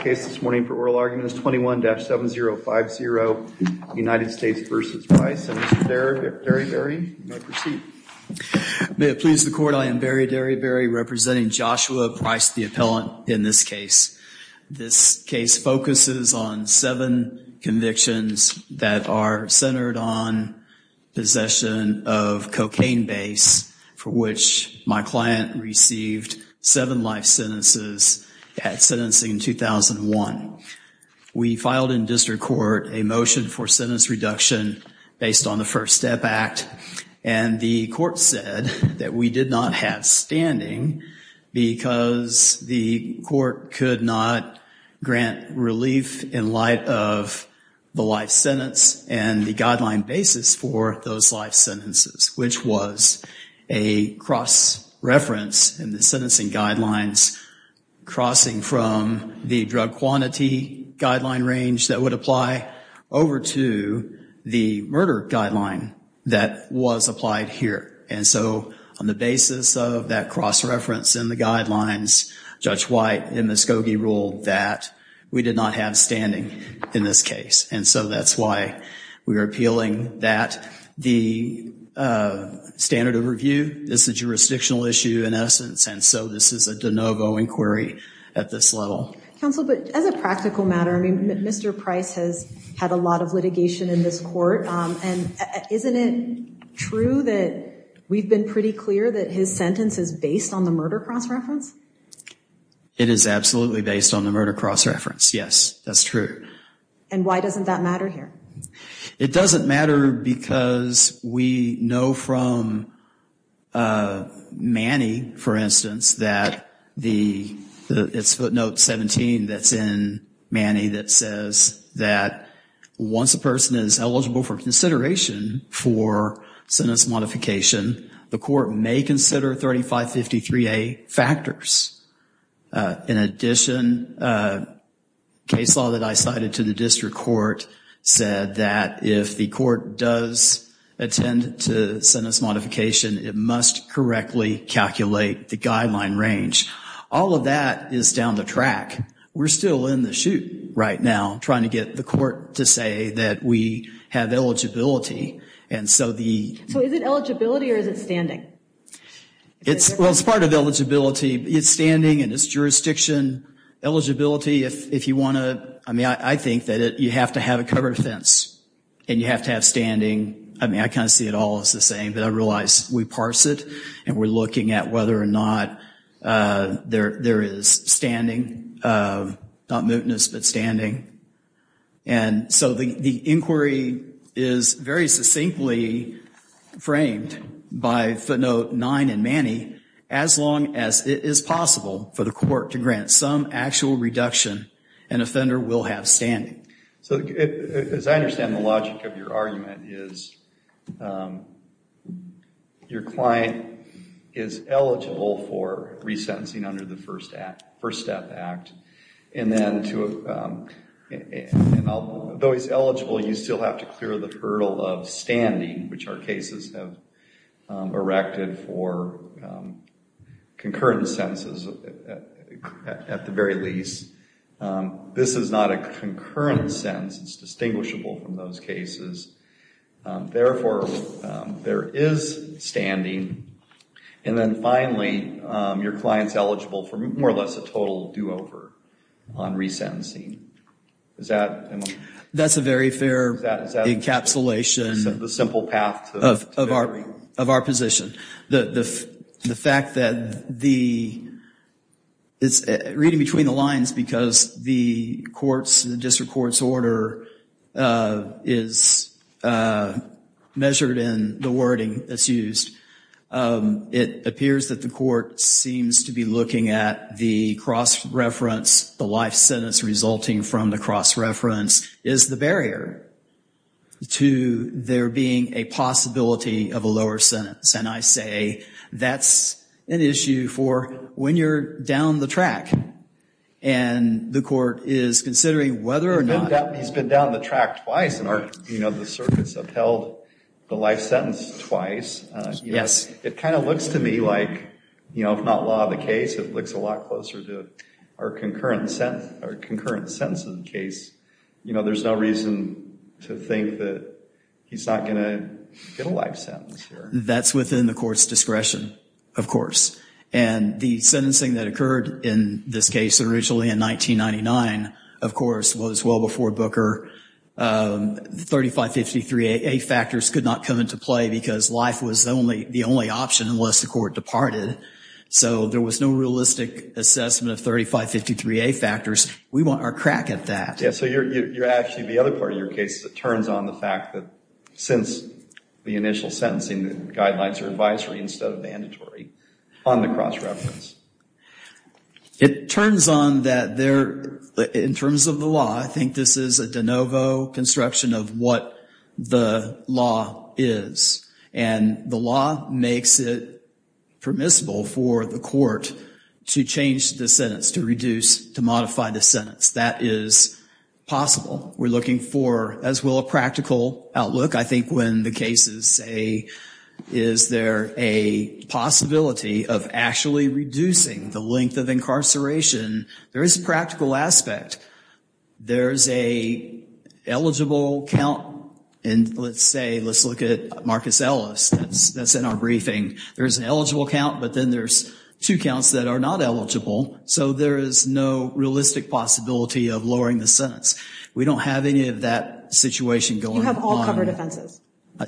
for oral arguments, 21-7050, United States v. Price. Senator Derryberry, you may proceed. May it please the Court, I am Barry Derryberry, representing Joshua Price, the appellant in this case. This case focuses on seven convictions that are centered on possession of cocaine base, for which my client received seven life sentences at sentencing in 2001. We filed in district court a motion for sentence reduction based on the First Step Act, and the court said that we did not have standing because the court could not grant relief in light of the life sentence and the guideline basis for those life sentences, which was a cross-reference in the sentencing guidelines crossing from the drug quantity guideline range that would apply over to the murder guideline that was applied here. And so on the basis of that cross-reference in the guidelines, Judge White and Ms. Coggey ruled that we did not have standing in this case. And so that's why we are appealing that. The standard of review is a jurisdictional issue in essence, and so this is a de novo inquiry at this level. Counsel, but as a practical matter, I mean, Mr. Price has had a lot of litigation in this court, and isn't it true that we've been pretty clear that his sentence is based on the murder cross-reference? It is absolutely based on the murder cross-reference, yes. That's true. And why doesn't that matter here? It doesn't matter because we know from Manny, for instance, that it's footnote 17 that's in Manny that says that once a person is eligible for consideration for sentence modification, the court may consider 3553A factors. In addition, a case law that I cited to the district court said that if the court does attend to sentence modification, it must correctly calculate the guideline range. All of that is down the track. We're still in the chute right now trying to get the court to say that we have eligibility. So is it eligibility or is it standing? Well, it's part of eligibility. It's standing and it's jurisdiction. Eligibility, if you want to, I mean, I think that you have to have a covered fence and you have to have standing. I mean, I kind of see it all as the same, but I realize we parse it and we're looking at whether or not there is standing, not mootness but standing. And so the inquiry is very succinctly framed by footnote 9 in Manny, as long as it is possible for the court to grant some actual reduction, an offender will have standing. So as I understand the logic of your argument, is your client is eligible for resentencing under the First Step Act, and then though he's eligible, you still have to clear the hurdle of standing, which our cases have erected for concurrent sentences at the very least. This is not a concurrent sentence. It's distinguishable from those cases. Therefore, there is standing. And then finally, your client's eligible for more or less a total do-over on resentencing. That's a very fair encapsulation. The simple path to bettering. Of our position. The fact that the reading between the lines, because the district court's order is measured in the wording that's used, it appears that the court seems to be looking at the cross-reference, the life sentence resulting from the cross-reference, is the barrier to there being a possibility of a lower sentence. And I say that's an issue for when you're down the track, and the court is considering whether or not. He's been down the track twice, and the circuits upheld the life sentence twice. Yes. It kind of looks to me like, if not law of the case, it looks a lot closer to our concurrent sentence in the case. You know, there's no reason to think that he's not going to get a life sentence. That's within the court's discretion, of course. And the sentencing that occurred in this case originally in 1999, of course, was well before Booker. The 3553A factors could not come into play because life was the only option unless the court departed. So there was no realistic assessment of 3553A factors. We want our crack at that. Yeah, so you're actually, the other part of your case, it turns on the fact that since the initial sentencing, the guidelines are advisory instead of mandatory on the cross-reference. It turns on that there, in terms of the law, I think this is a de novo construction of what the law is. And the law makes it permissible for the court to change the sentence, to reduce, to modify the sentence. That is possible. We're looking for, as well, a practical outlook. I think when the cases say, is there a possibility of actually reducing the length of incarceration, there is a practical aspect. There's a eligible count. And let's say, let's look at Marcus Ellis. That's in our briefing. There's an eligible count, but then there's two counts that are not eligible. So there is no realistic possibility of lowering the sentence. We don't have any of that situation going on. You have all covered offenses.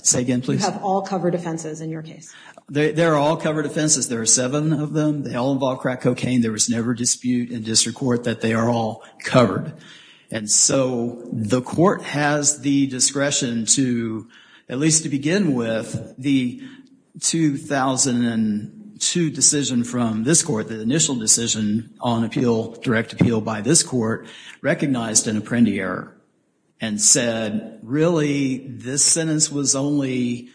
Say again, please. You have all covered offenses in your case. They're all covered offenses. There are seven of them. They all involve crack cocaine. There was never dispute in district court that they are all covered. And so the court has the discretion to, at least to begin with, the 2002 decision from this court, the initial decision on appeal, direct appeal by this court, recognized an Apprendi error and said, really, this sentence was only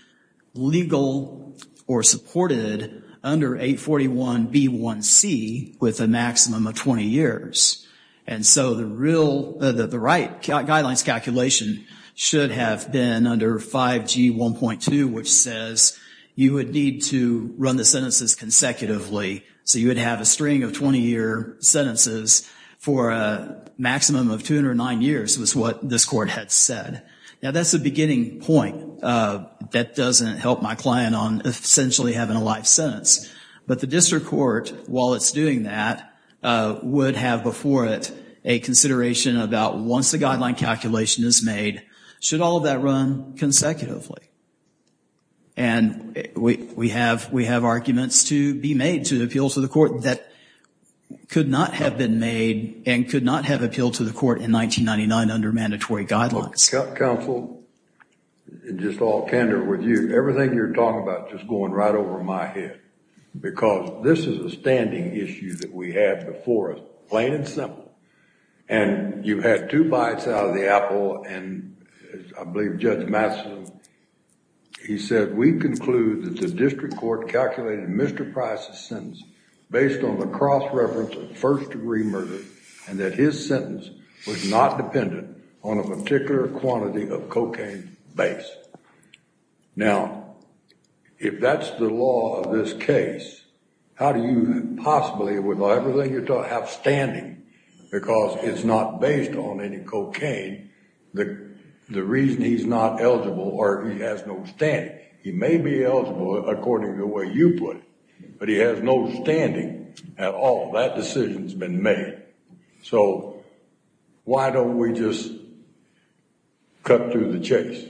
legal or supported under 841B1C with a maximum of 20 years. And so the right guidelines calculation should have been under 5G1.2, which says you would need to run the sentences consecutively. So you would have a string of 20-year sentences for a maximum of 209 years, was what this court had said. Now, that's a beginning point. That doesn't help my client on essentially having a life sentence. But the district court, while it's doing that, would have before it a consideration about once the guideline calculation is made, should all of that run consecutively? And we have arguments to be made to appeal to the court that could not have been made and could not have appealed to the court in 1999 under mandatory guidelines. Counsel, just all candor with you, everything you're talking about just going right over my head, because this is a standing issue that we have before us, plain and simple. And you've had two bites out of the apple. And I believe Judge Masson, he said, we conclude that the district court calculated Mr. Price's sentence based on the cross-reference of first-degree murder and that his sentence was not dependent on a particular quantity of cocaine base. Now, if that's the law of this case, how do you possibly with everything you're talking about have standing? Because it's not based on any cocaine. The reason he's not eligible or he has no standing, he may be eligible according to the way you put it, but he has no standing at all. That decision's been made. So why don't we just cut through the chase?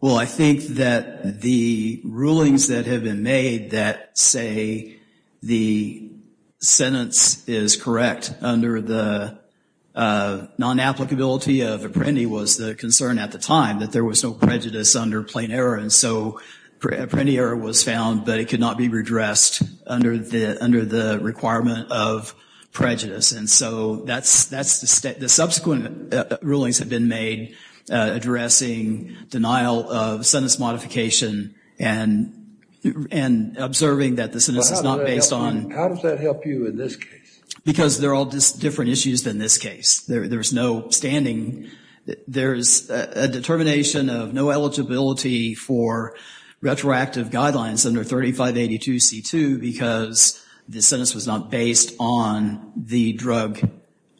Well, I think that the rulings that have been made that say the sentence is correct under the non-applicability of Apprendi was the concern at the time that there was no prejudice under plain error. And so Apprendi error was found, but it could not be redressed under the requirement of prejudice. And so the subsequent rulings have been made addressing denial of sentence modification and observing that the sentence is not based on. How does that help you in this case? Because they're all different issues than this case. There's no standing. There's a determination of no eligibility for retroactive guidelines under 3582C2 because the sentence was not based on the drug,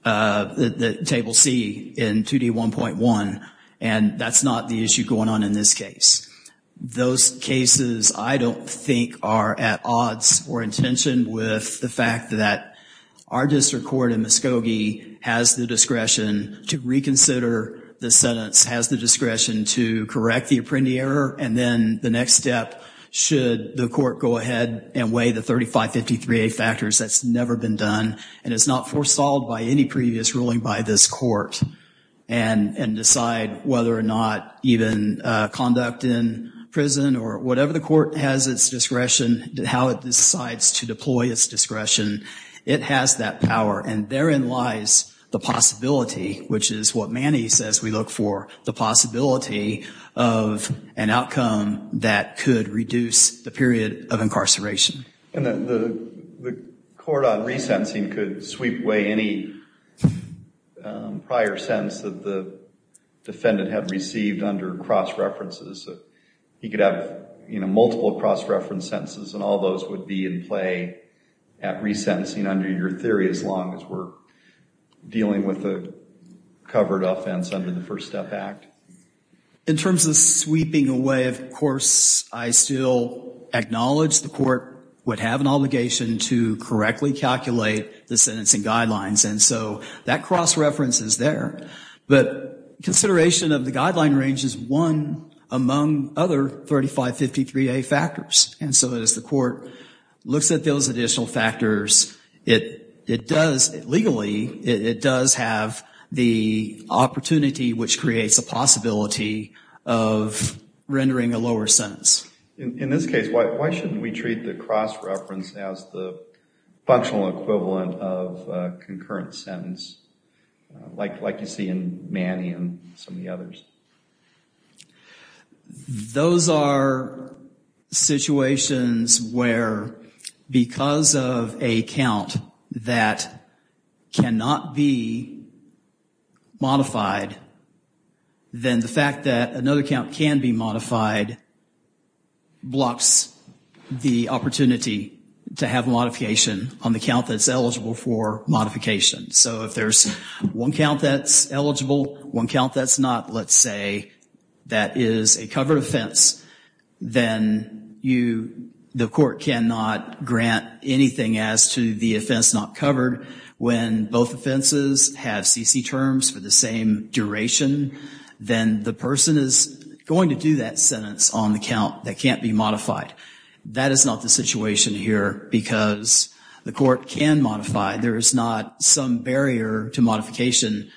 the table C in 2D1.1, and that's not the issue going on in this case. Those cases I don't think are at odds or in tension with the fact that our sentence has the discretion to correct the Apprendi error, and then the next step should the court go ahead and weigh the 3553A factors. That's never been done, and it's not foresawed by any previous ruling by this court and decide whether or not even conduct in prison or whatever the court has its discretion, how it decides to deploy its discretion, it has that power. And therein lies the possibility, which is what Manny says we look for, the possibility of an outcome that could reduce the period of incarceration. And the court on resentencing could sweep away any prior sentence that the defendant had received under cross-references. He could have multiple cross-reference sentences, and all those would be in play at resentencing under your theory as long as we're dealing with a covered offense under the First Step Act. In terms of sweeping away, of course, I still acknowledge the court would have an obligation to correctly calculate the sentencing guidelines, and so that cross-reference is there. But consideration of the guideline range is one among other 3553A factors, and so as the court looks at those additional factors, it does, legally, it does have the opportunity which creates a possibility of rendering a lower sentence. In this case, why shouldn't we treat the cross-reference as the functional equivalent of a concurrent sentence, like you see in Manny and some of the others? Those are situations where because of a count that cannot be modified, then the fact that another count can be modified blocks the opportunity to have modification on the count that's eligible for modification. So if there's one count that's eligible, one count that's not, let's say that is a covered offense, then the court cannot grant anything as to the offense not covered. When both offenses have CC terms for the same duration, then the person is going to do that sentence on the count that can't be modified. That is not the situation here because the court can modify. There is not some barrier to modification.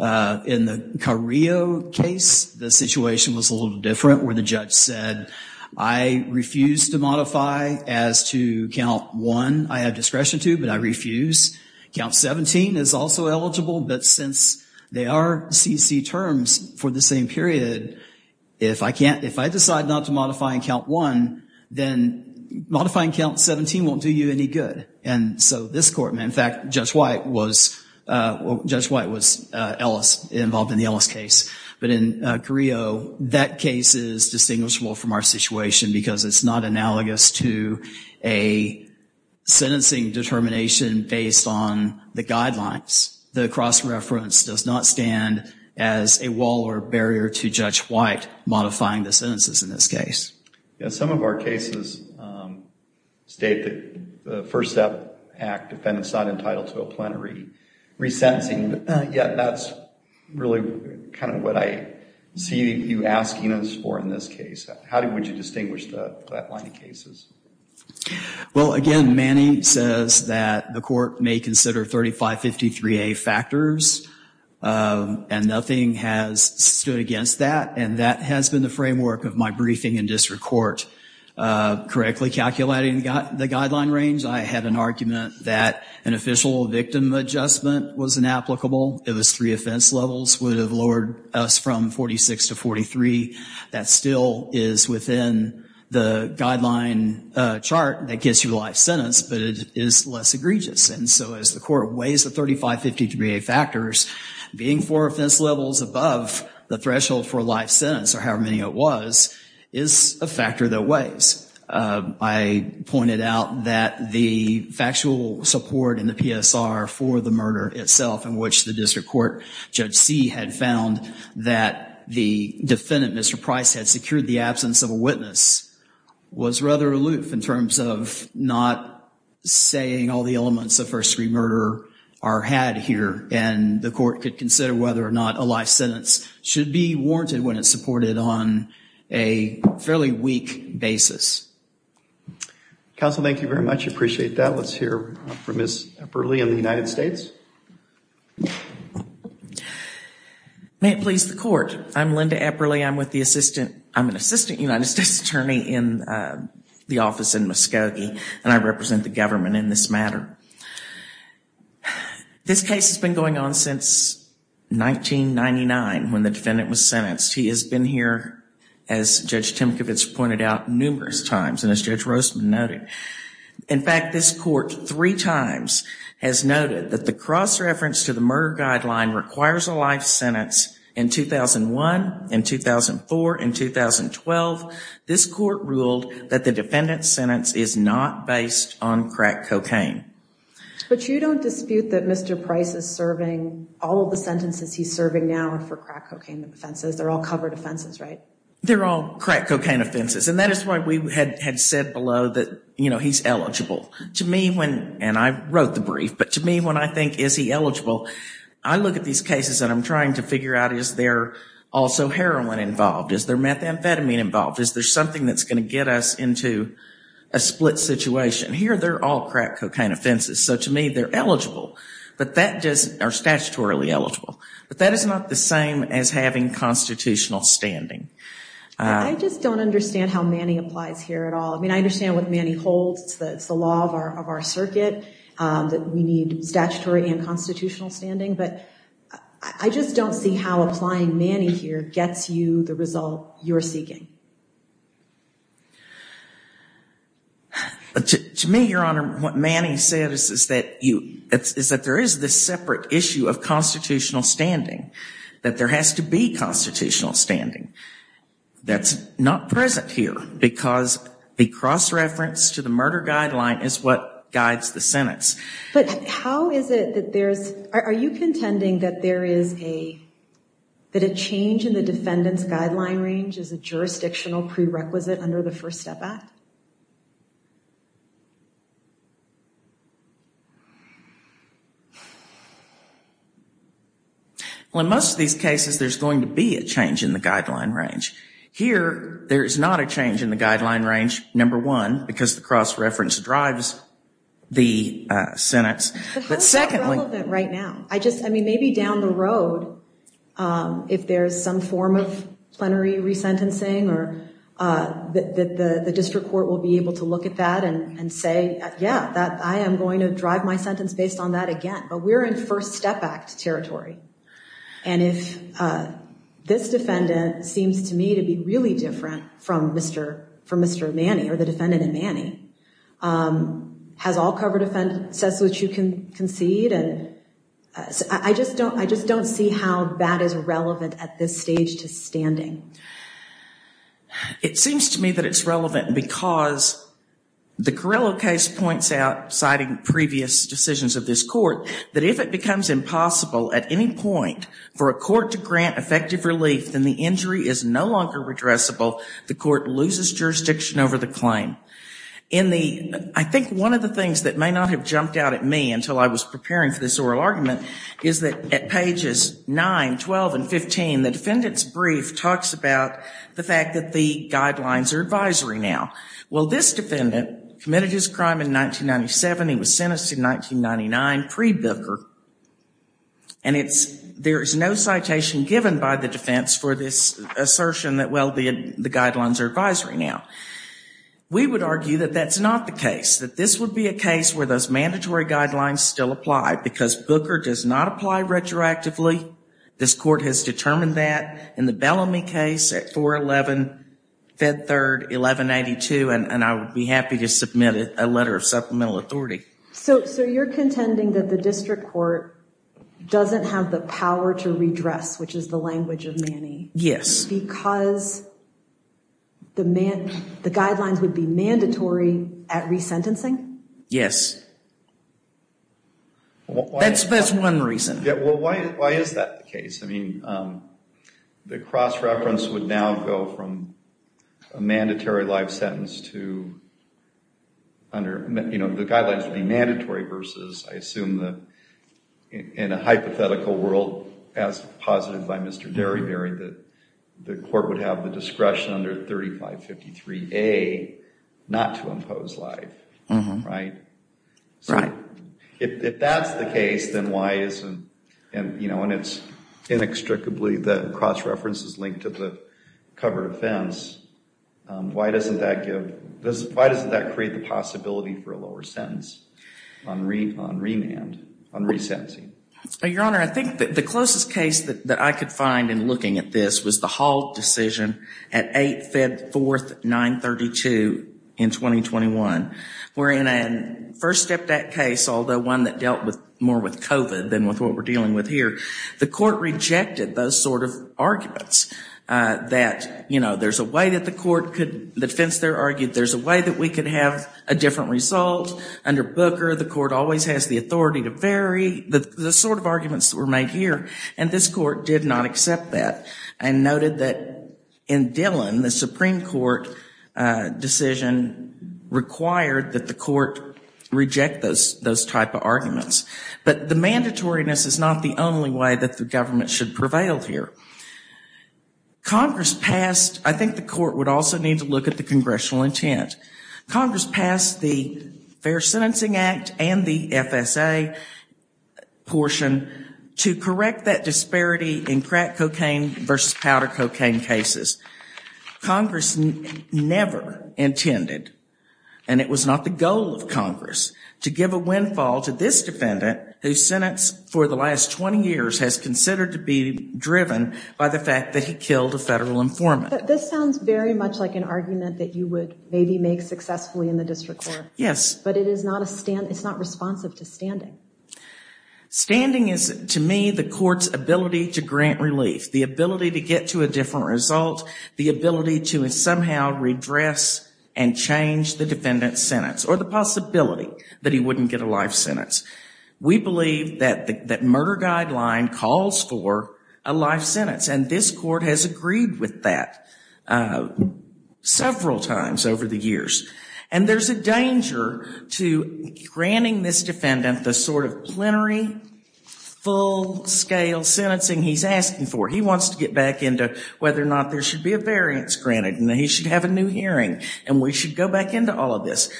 In the Carrillo case, the situation was a little different where the judge said, I refuse to modify as to count one I have discretion to, but I refuse. Count 17 is also eligible, but since they are CC terms for the same period, if I decide not to modify in count one, then modifying count 17 won't do you any good. And so this court, in fact, Judge White was involved in the Ellis case. But in Carrillo, that case is distinguishable from our situation because it's not analogous to a sentencing determination based on the guidelines. The cross-reference does not stand as a wall or barrier to Judge White modifying the sentences in this case. Yes, some of our cases state that the First Step Act defendants not entitled to a plenary resentencing, yet that's really kind of what I see you asking us for in this case. How would you distinguish that line of cases? Well, again, Manny says that the court may consider 3553A factors, and nothing has stood against that, and that has been the framework of my briefing in district court. Correctly calculating the guideline range, I had an argument that an official victim adjustment was inapplicable. It was three offense levels would have lowered us from 46 to 43. That still is within the guideline chart that gets you the life sentence, but it is less egregious. And so as the court weighs the 3553A factors, being four offense levels above the threshold for a life sentence, or however many it was, is a factor that weighs. I pointed out that the factual support in the PSR for the murder itself, in which the district court Judge See had found that the defendant, Mr. Price, had secured the absence of a witness, was rather aloof in terms of not saying all the elements of first degree murder are had here, and the court could consider whether or not a life sentence should be warranted when it's supported on a fairly weak basis. Counsel, thank you very much. I appreciate that. Let's hear from Ms. Epperle in the United States. May it please the court. I'm Linda Epperle. I'm an assistant United States attorney in the office in Muskogee, and I represent the government in this matter. This case has been going on since 1999 when the defendant was sentenced. He has been here, as Judge Timkovitz pointed out, numerous times, and as Judge Rosman noted. In fact, this court three times has noted that the cross-reference to the murder guideline requires a life sentence in 2001, in 2004, in 2012. This court ruled that the defendant's sentence is not based on crack cocaine. But you don't dispute that Mr. Price is serving all of the sentences he's serving now are for crack cocaine offenses. They're all covered offenses, right? They're all crack cocaine offenses, and that is why we had said below that he's eligible. To me, and I wrote the brief, but to me, when I think, is he eligible, I look at these cases and I'm trying to figure out, is there also heroin involved? Is there methamphetamine involved? Is there something that's going to get us into a split situation? Here, they're all crack cocaine offenses. So to me, they're eligible, but that just are statutorily eligible. But that is not the same as having constitutional standing. I just don't understand how Manny applies here at all. I mean, I understand what Manny holds. It's the law of our circuit that we need statutory and constitutional standing, but I just don't see how applying Manny here gets you the result you're seeking. To me, Your Honor, what Manny said is that there is this separate issue of constitutional standing, that there has to be constitutional standing. That's not present here because the cross-reference to the murder guideline is what guides the sentence. But how is it that there's, are you contending that there is a, that a change in the defendant's guideline range is a jurisdictional prerequisite under the First Step Act? Well, in most of these cases, there's going to be a change in the guideline range. Here, there is not a change in the guideline range, number one, because the cross-reference drives the sentence. But how is that relevant right now? I just, I mean, maybe down the road, if there's some form of plenary resentencing, the district court will be able to look at that and say, yeah, I am going to drive my sentence based on that again. But we're in First Step Act territory. And if this defendant seems to me to be really different from Mr. Manny, or the defendant in Manny, has all covered offenses which you can concede, I just don't see how that is relevant at this stage to standing. It seems to me that it's relevant because the Carrillo case points out, citing previous decisions of this court, that if it becomes impossible at any point for a court to grant effective relief, then the injury is no longer redressable, the court loses jurisdiction over the claim. I think one of the things that may not have jumped out at me until I was preparing for this oral argument is that at pages 9, 12, and 15, the defendant's brief talks about the fact that the guidelines are advisory now. Well, this defendant committed his crime in 1997. He was sentenced in 1999, pre-Bilker. And there is no citation given by the defense for this assertion that, well, the guidelines are advisory now. We would argue that that's not the case, that this would be a case where those mandatory guidelines still apply, because Booker does not apply retroactively. This court has determined that. In the Bellamy case at 4-11, Fed Third, 1182, and I would be happy to submit a letter of supplemental authority. So you're contending that the district court doesn't have the power to redress, which is the language of Manny. Yes. Just because the guidelines would be mandatory at resentencing? Yes. That's one reason. Yeah, well, why is that the case? I mean, the cross-reference would now go from a mandatory life sentence to under, you know, the guidelines would be mandatory versus, I assume in a hypothetical world, as posited by Mr. Derryberry, that the court would have the discretion under 3553A not to impose life, right? Right. If that's the case, then why isn't, you know, and it's inextricably the cross-reference is linked to the covered offense, why doesn't that give, why doesn't that create the possibility for a lower sentence on remand, on resentencing? Your Honor, I think that the closest case that I could find in looking at this was the Hall decision at 8th, 4th, 932 in 2021. We're in a first step that case, although one that dealt with more with COVID than with what we're dealing with here. The court rejected those sort of arguments that, you know, there's a way that the court could, the defense there argued, there's a way that we could have a different result. Under Booker, the court always has the authority to vary, the sort of arguments that were made here. And this court did not accept that and noted that in Dillon, the Supreme Court decision required that the court reject those type of arguments. But the mandatoriness is not the only way that the government should prevail here. Congress passed, I think the court would also need to look at the congressional intent. Congress passed the Fair Sentencing Act and the FSA. Portion to correct that disparity in crack cocaine versus powder cocaine cases. Congress never intended. And it was not the goal of Congress to give a windfall to this defendant who's sentence for the last 20 years has considered to be driven by the fact that he killed a federal informant. This sounds very much like an argument that you would maybe make successfully in the district court. Yes, but it is not a stand. Standing is, to me, the court's ability to grant relief, the ability to get to a different result, the ability to somehow redress and change the defendant's sentence, or the possibility that he wouldn't get a life sentence. We believe that murder guideline calls for a life sentence. And this court has agreed with that several times over the years. And there's a danger to granting this defendant the sort of plenary, full-scale sentencing he's asking for. He wants to get back into whether or not there should be a variance granted and that he should have a new hearing. And we should go back into all of this.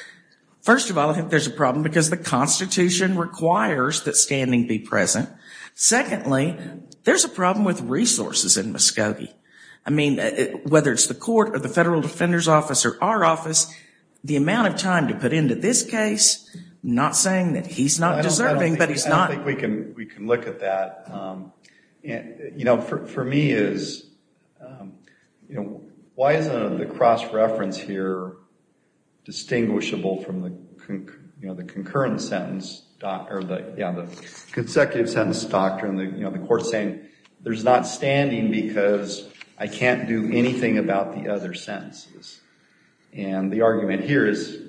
First of all, I think there's a problem because the Constitution requires that standing be present. Secondly, there's a problem with resources in Muskogee. I mean, whether it's the court or the Federal Defender's Office or our office, the amount of time to put into this case, I'm not saying that he's not deserving, but he's not. I don't think we can look at that. You know, for me, is, you know, why isn't the cross-reference here distinguishable from the, you know, the concurrent sentence, or the consecutive sentence doctrine? You know, the court's saying there's not standing because I can't do And the argument here is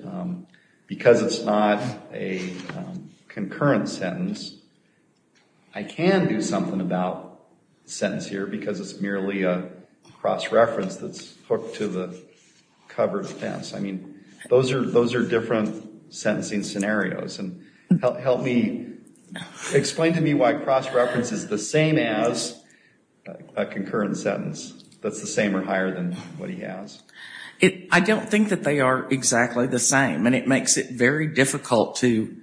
because it's not a concurrent sentence, I can do something about the sentence here because it's merely a cross-reference that's hooked to the covered fence. I mean, those are different sentencing scenarios. Help me. Explain to me why cross-reference is the same as a concurrent sentence. That's the same or higher than what he has. I don't think that they are exactly the same, and it makes it very difficult to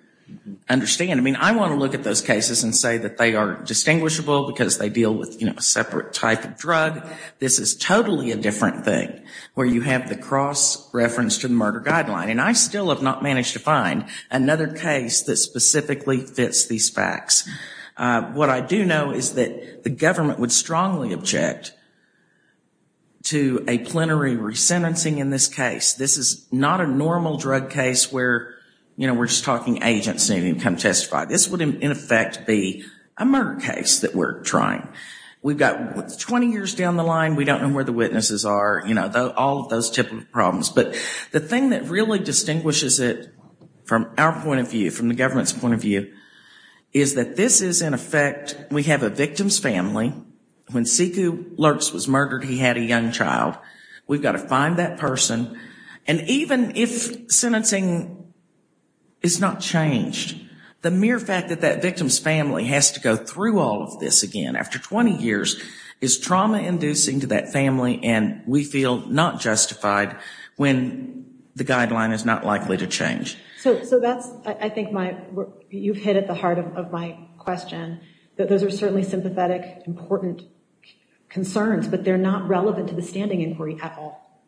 understand. I mean, I want to look at those cases and say that they are distinguishable because they deal with, you know, a separate type of drug. This is totally a different thing, where you have the cross-reference to the murder guideline. And I still have not managed to find another case that specifically fits these facts. What I do know is that the government would strongly object to a plenary resentencing in this case. This is not a normal drug case where, you know, we're just talking agents needing to come testify. This would, in effect, be a murder case that we're trying. We've got 20 years down the line. We don't know where the witnesses are. You know, all of those types of problems. But the thing that really distinguishes it from our point of view, from the government's point of view, is that this is, in effect, we have a victim's family. When Siku Lurtz was murdered, he had a young child. We've got to find that person. And even if sentencing is not changed, the mere fact that that victim's family has to go through all of this again after 20 years is trauma-inducing to that family, and we feel not justified when the guideline is not likely to change. So that's, I think, you've hit at the heart of my question, that those are certainly sympathetic, important concerns, but they're not relevant to the standing inquiry at all.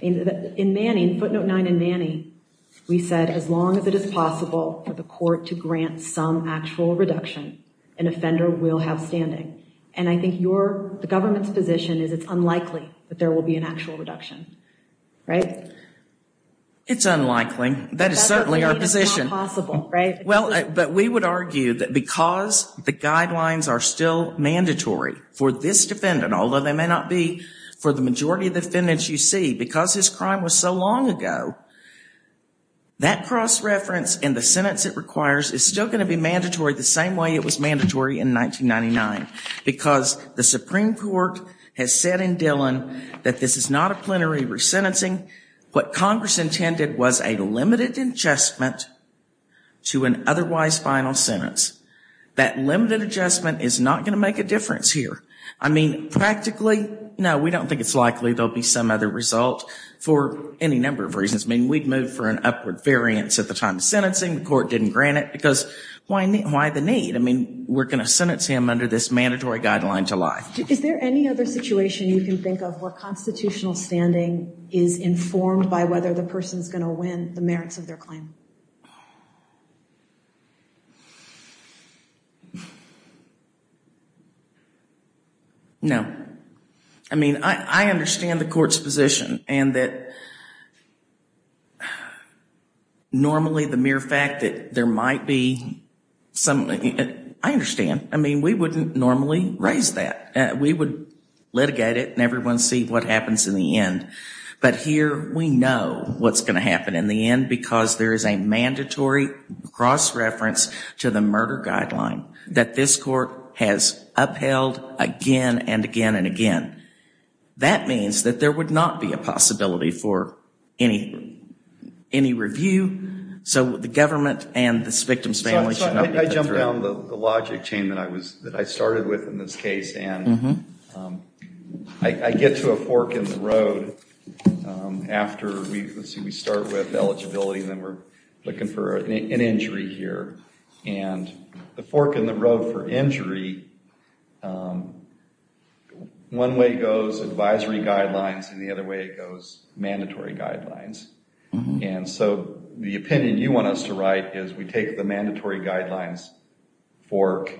In footnote 9 in Manny, we said, as long as it is possible for the court to grant some actual reduction, an offender will have standing. And I think the government's position is it's unlikely that there will be an actual reduction, right? It's unlikely. That is certainly our position. Well, but we would argue that because the guidelines are still mandatory for this defendant, although they may not be for the majority of defendants you see, because his crime was so long ago, that cross-reference and the sentence it requires is still going to be mandatory the same way it was mandatory in 1999, because the Supreme Court has said in Dillon that this is not a plenary resentencing. What Congress intended was a limited adjustment to an otherwise final sentence. That limited adjustment is not going to make a difference here. I mean, practically, no, we don't think it's likely there will be some other result for any number of reasons. I mean, we'd move for an upward variance at the time of sentencing. The court didn't grant it, because why the need? I mean, we're going to sentence him under this mandatory guideline to lie. Is there any other situation you can think of where constitutional standing is informed by whether the person is going to win the merits of their claim? No. I mean, I understand the court's position, and that normally the mere fact that there might be some... I understand. I mean, we wouldn't normally raise that. We would litigate it and everyone see what happens in the end. But here we know what's going to happen in the end, because there is a mandatory cross-reference to the murder guideline that this court has upheld again and again and again. That means that there would not be a possibility for any review, so the government and the victim's family should not be put through. I jumped down the logic chain that I started with in this case, and I get to a fork in the road after we start with eligibility, and then we're looking for an injury here. And the fork in the road for injury, one way goes advisory guidelines, and the other way it goes mandatory guidelines. And so the opinion you want us to write is we take the mandatory guidelines fork,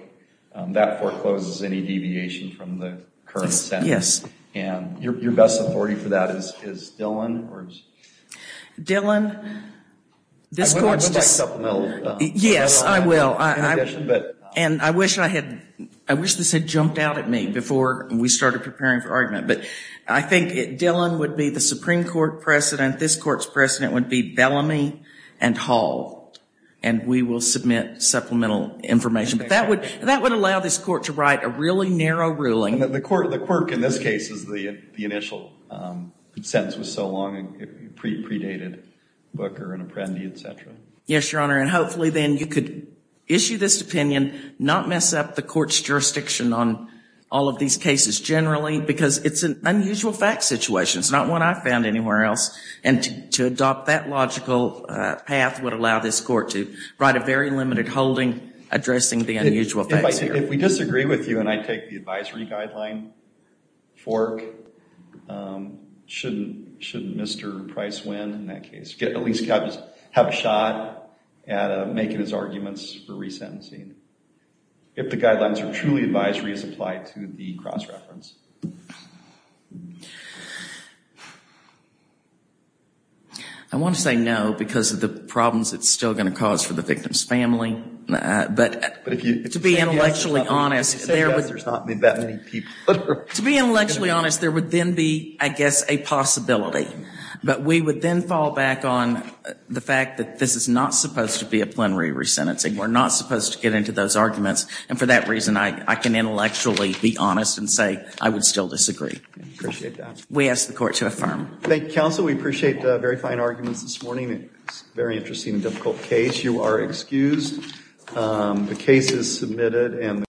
that forecloses any deviation from the current sentence. Yes. And your best authority for that is Dillon or is... Dillon, this court's just... I'm going to back up a little. Yes, I will. But I think Dillon would be the Supreme Court precedent, this court's precedent would be Bellamy and Hall, and we will submit supplemental information. But that would allow this court to write a really narrow ruling. The quirk in this case is the initial sentence was so long, predated Booker and Apprendi, et cetera. Yes, Your Honor, and hopefully then you could issue this opinion, not mess up the court's jurisdiction on all of these cases generally, because it's an unusual fact situation. It's not one I've found anywhere else, and to adopt that logical path would allow this court to write a very limited holding addressing the unusual facts here. If we disagree with you and I take the advisory guideline fork, shouldn't Mr. Price win in that case? At least have a shot at making his arguments for resentencing. If the guidelines are truly advisory as applied to the cross-reference. I want to say no because of the problems it's still going to cause for the victim's family, but to be intellectually honest, there would then be, I guess, a possibility. But we would then fall back on the fact that this is not supposed to be a And for that reason, I can intellectually be honest and say I would still disagree. We ask the court to affirm. Thank you, counsel. We appreciate the very fine arguments this morning. It's a very interesting and difficult case. You are excused. The case is submitted.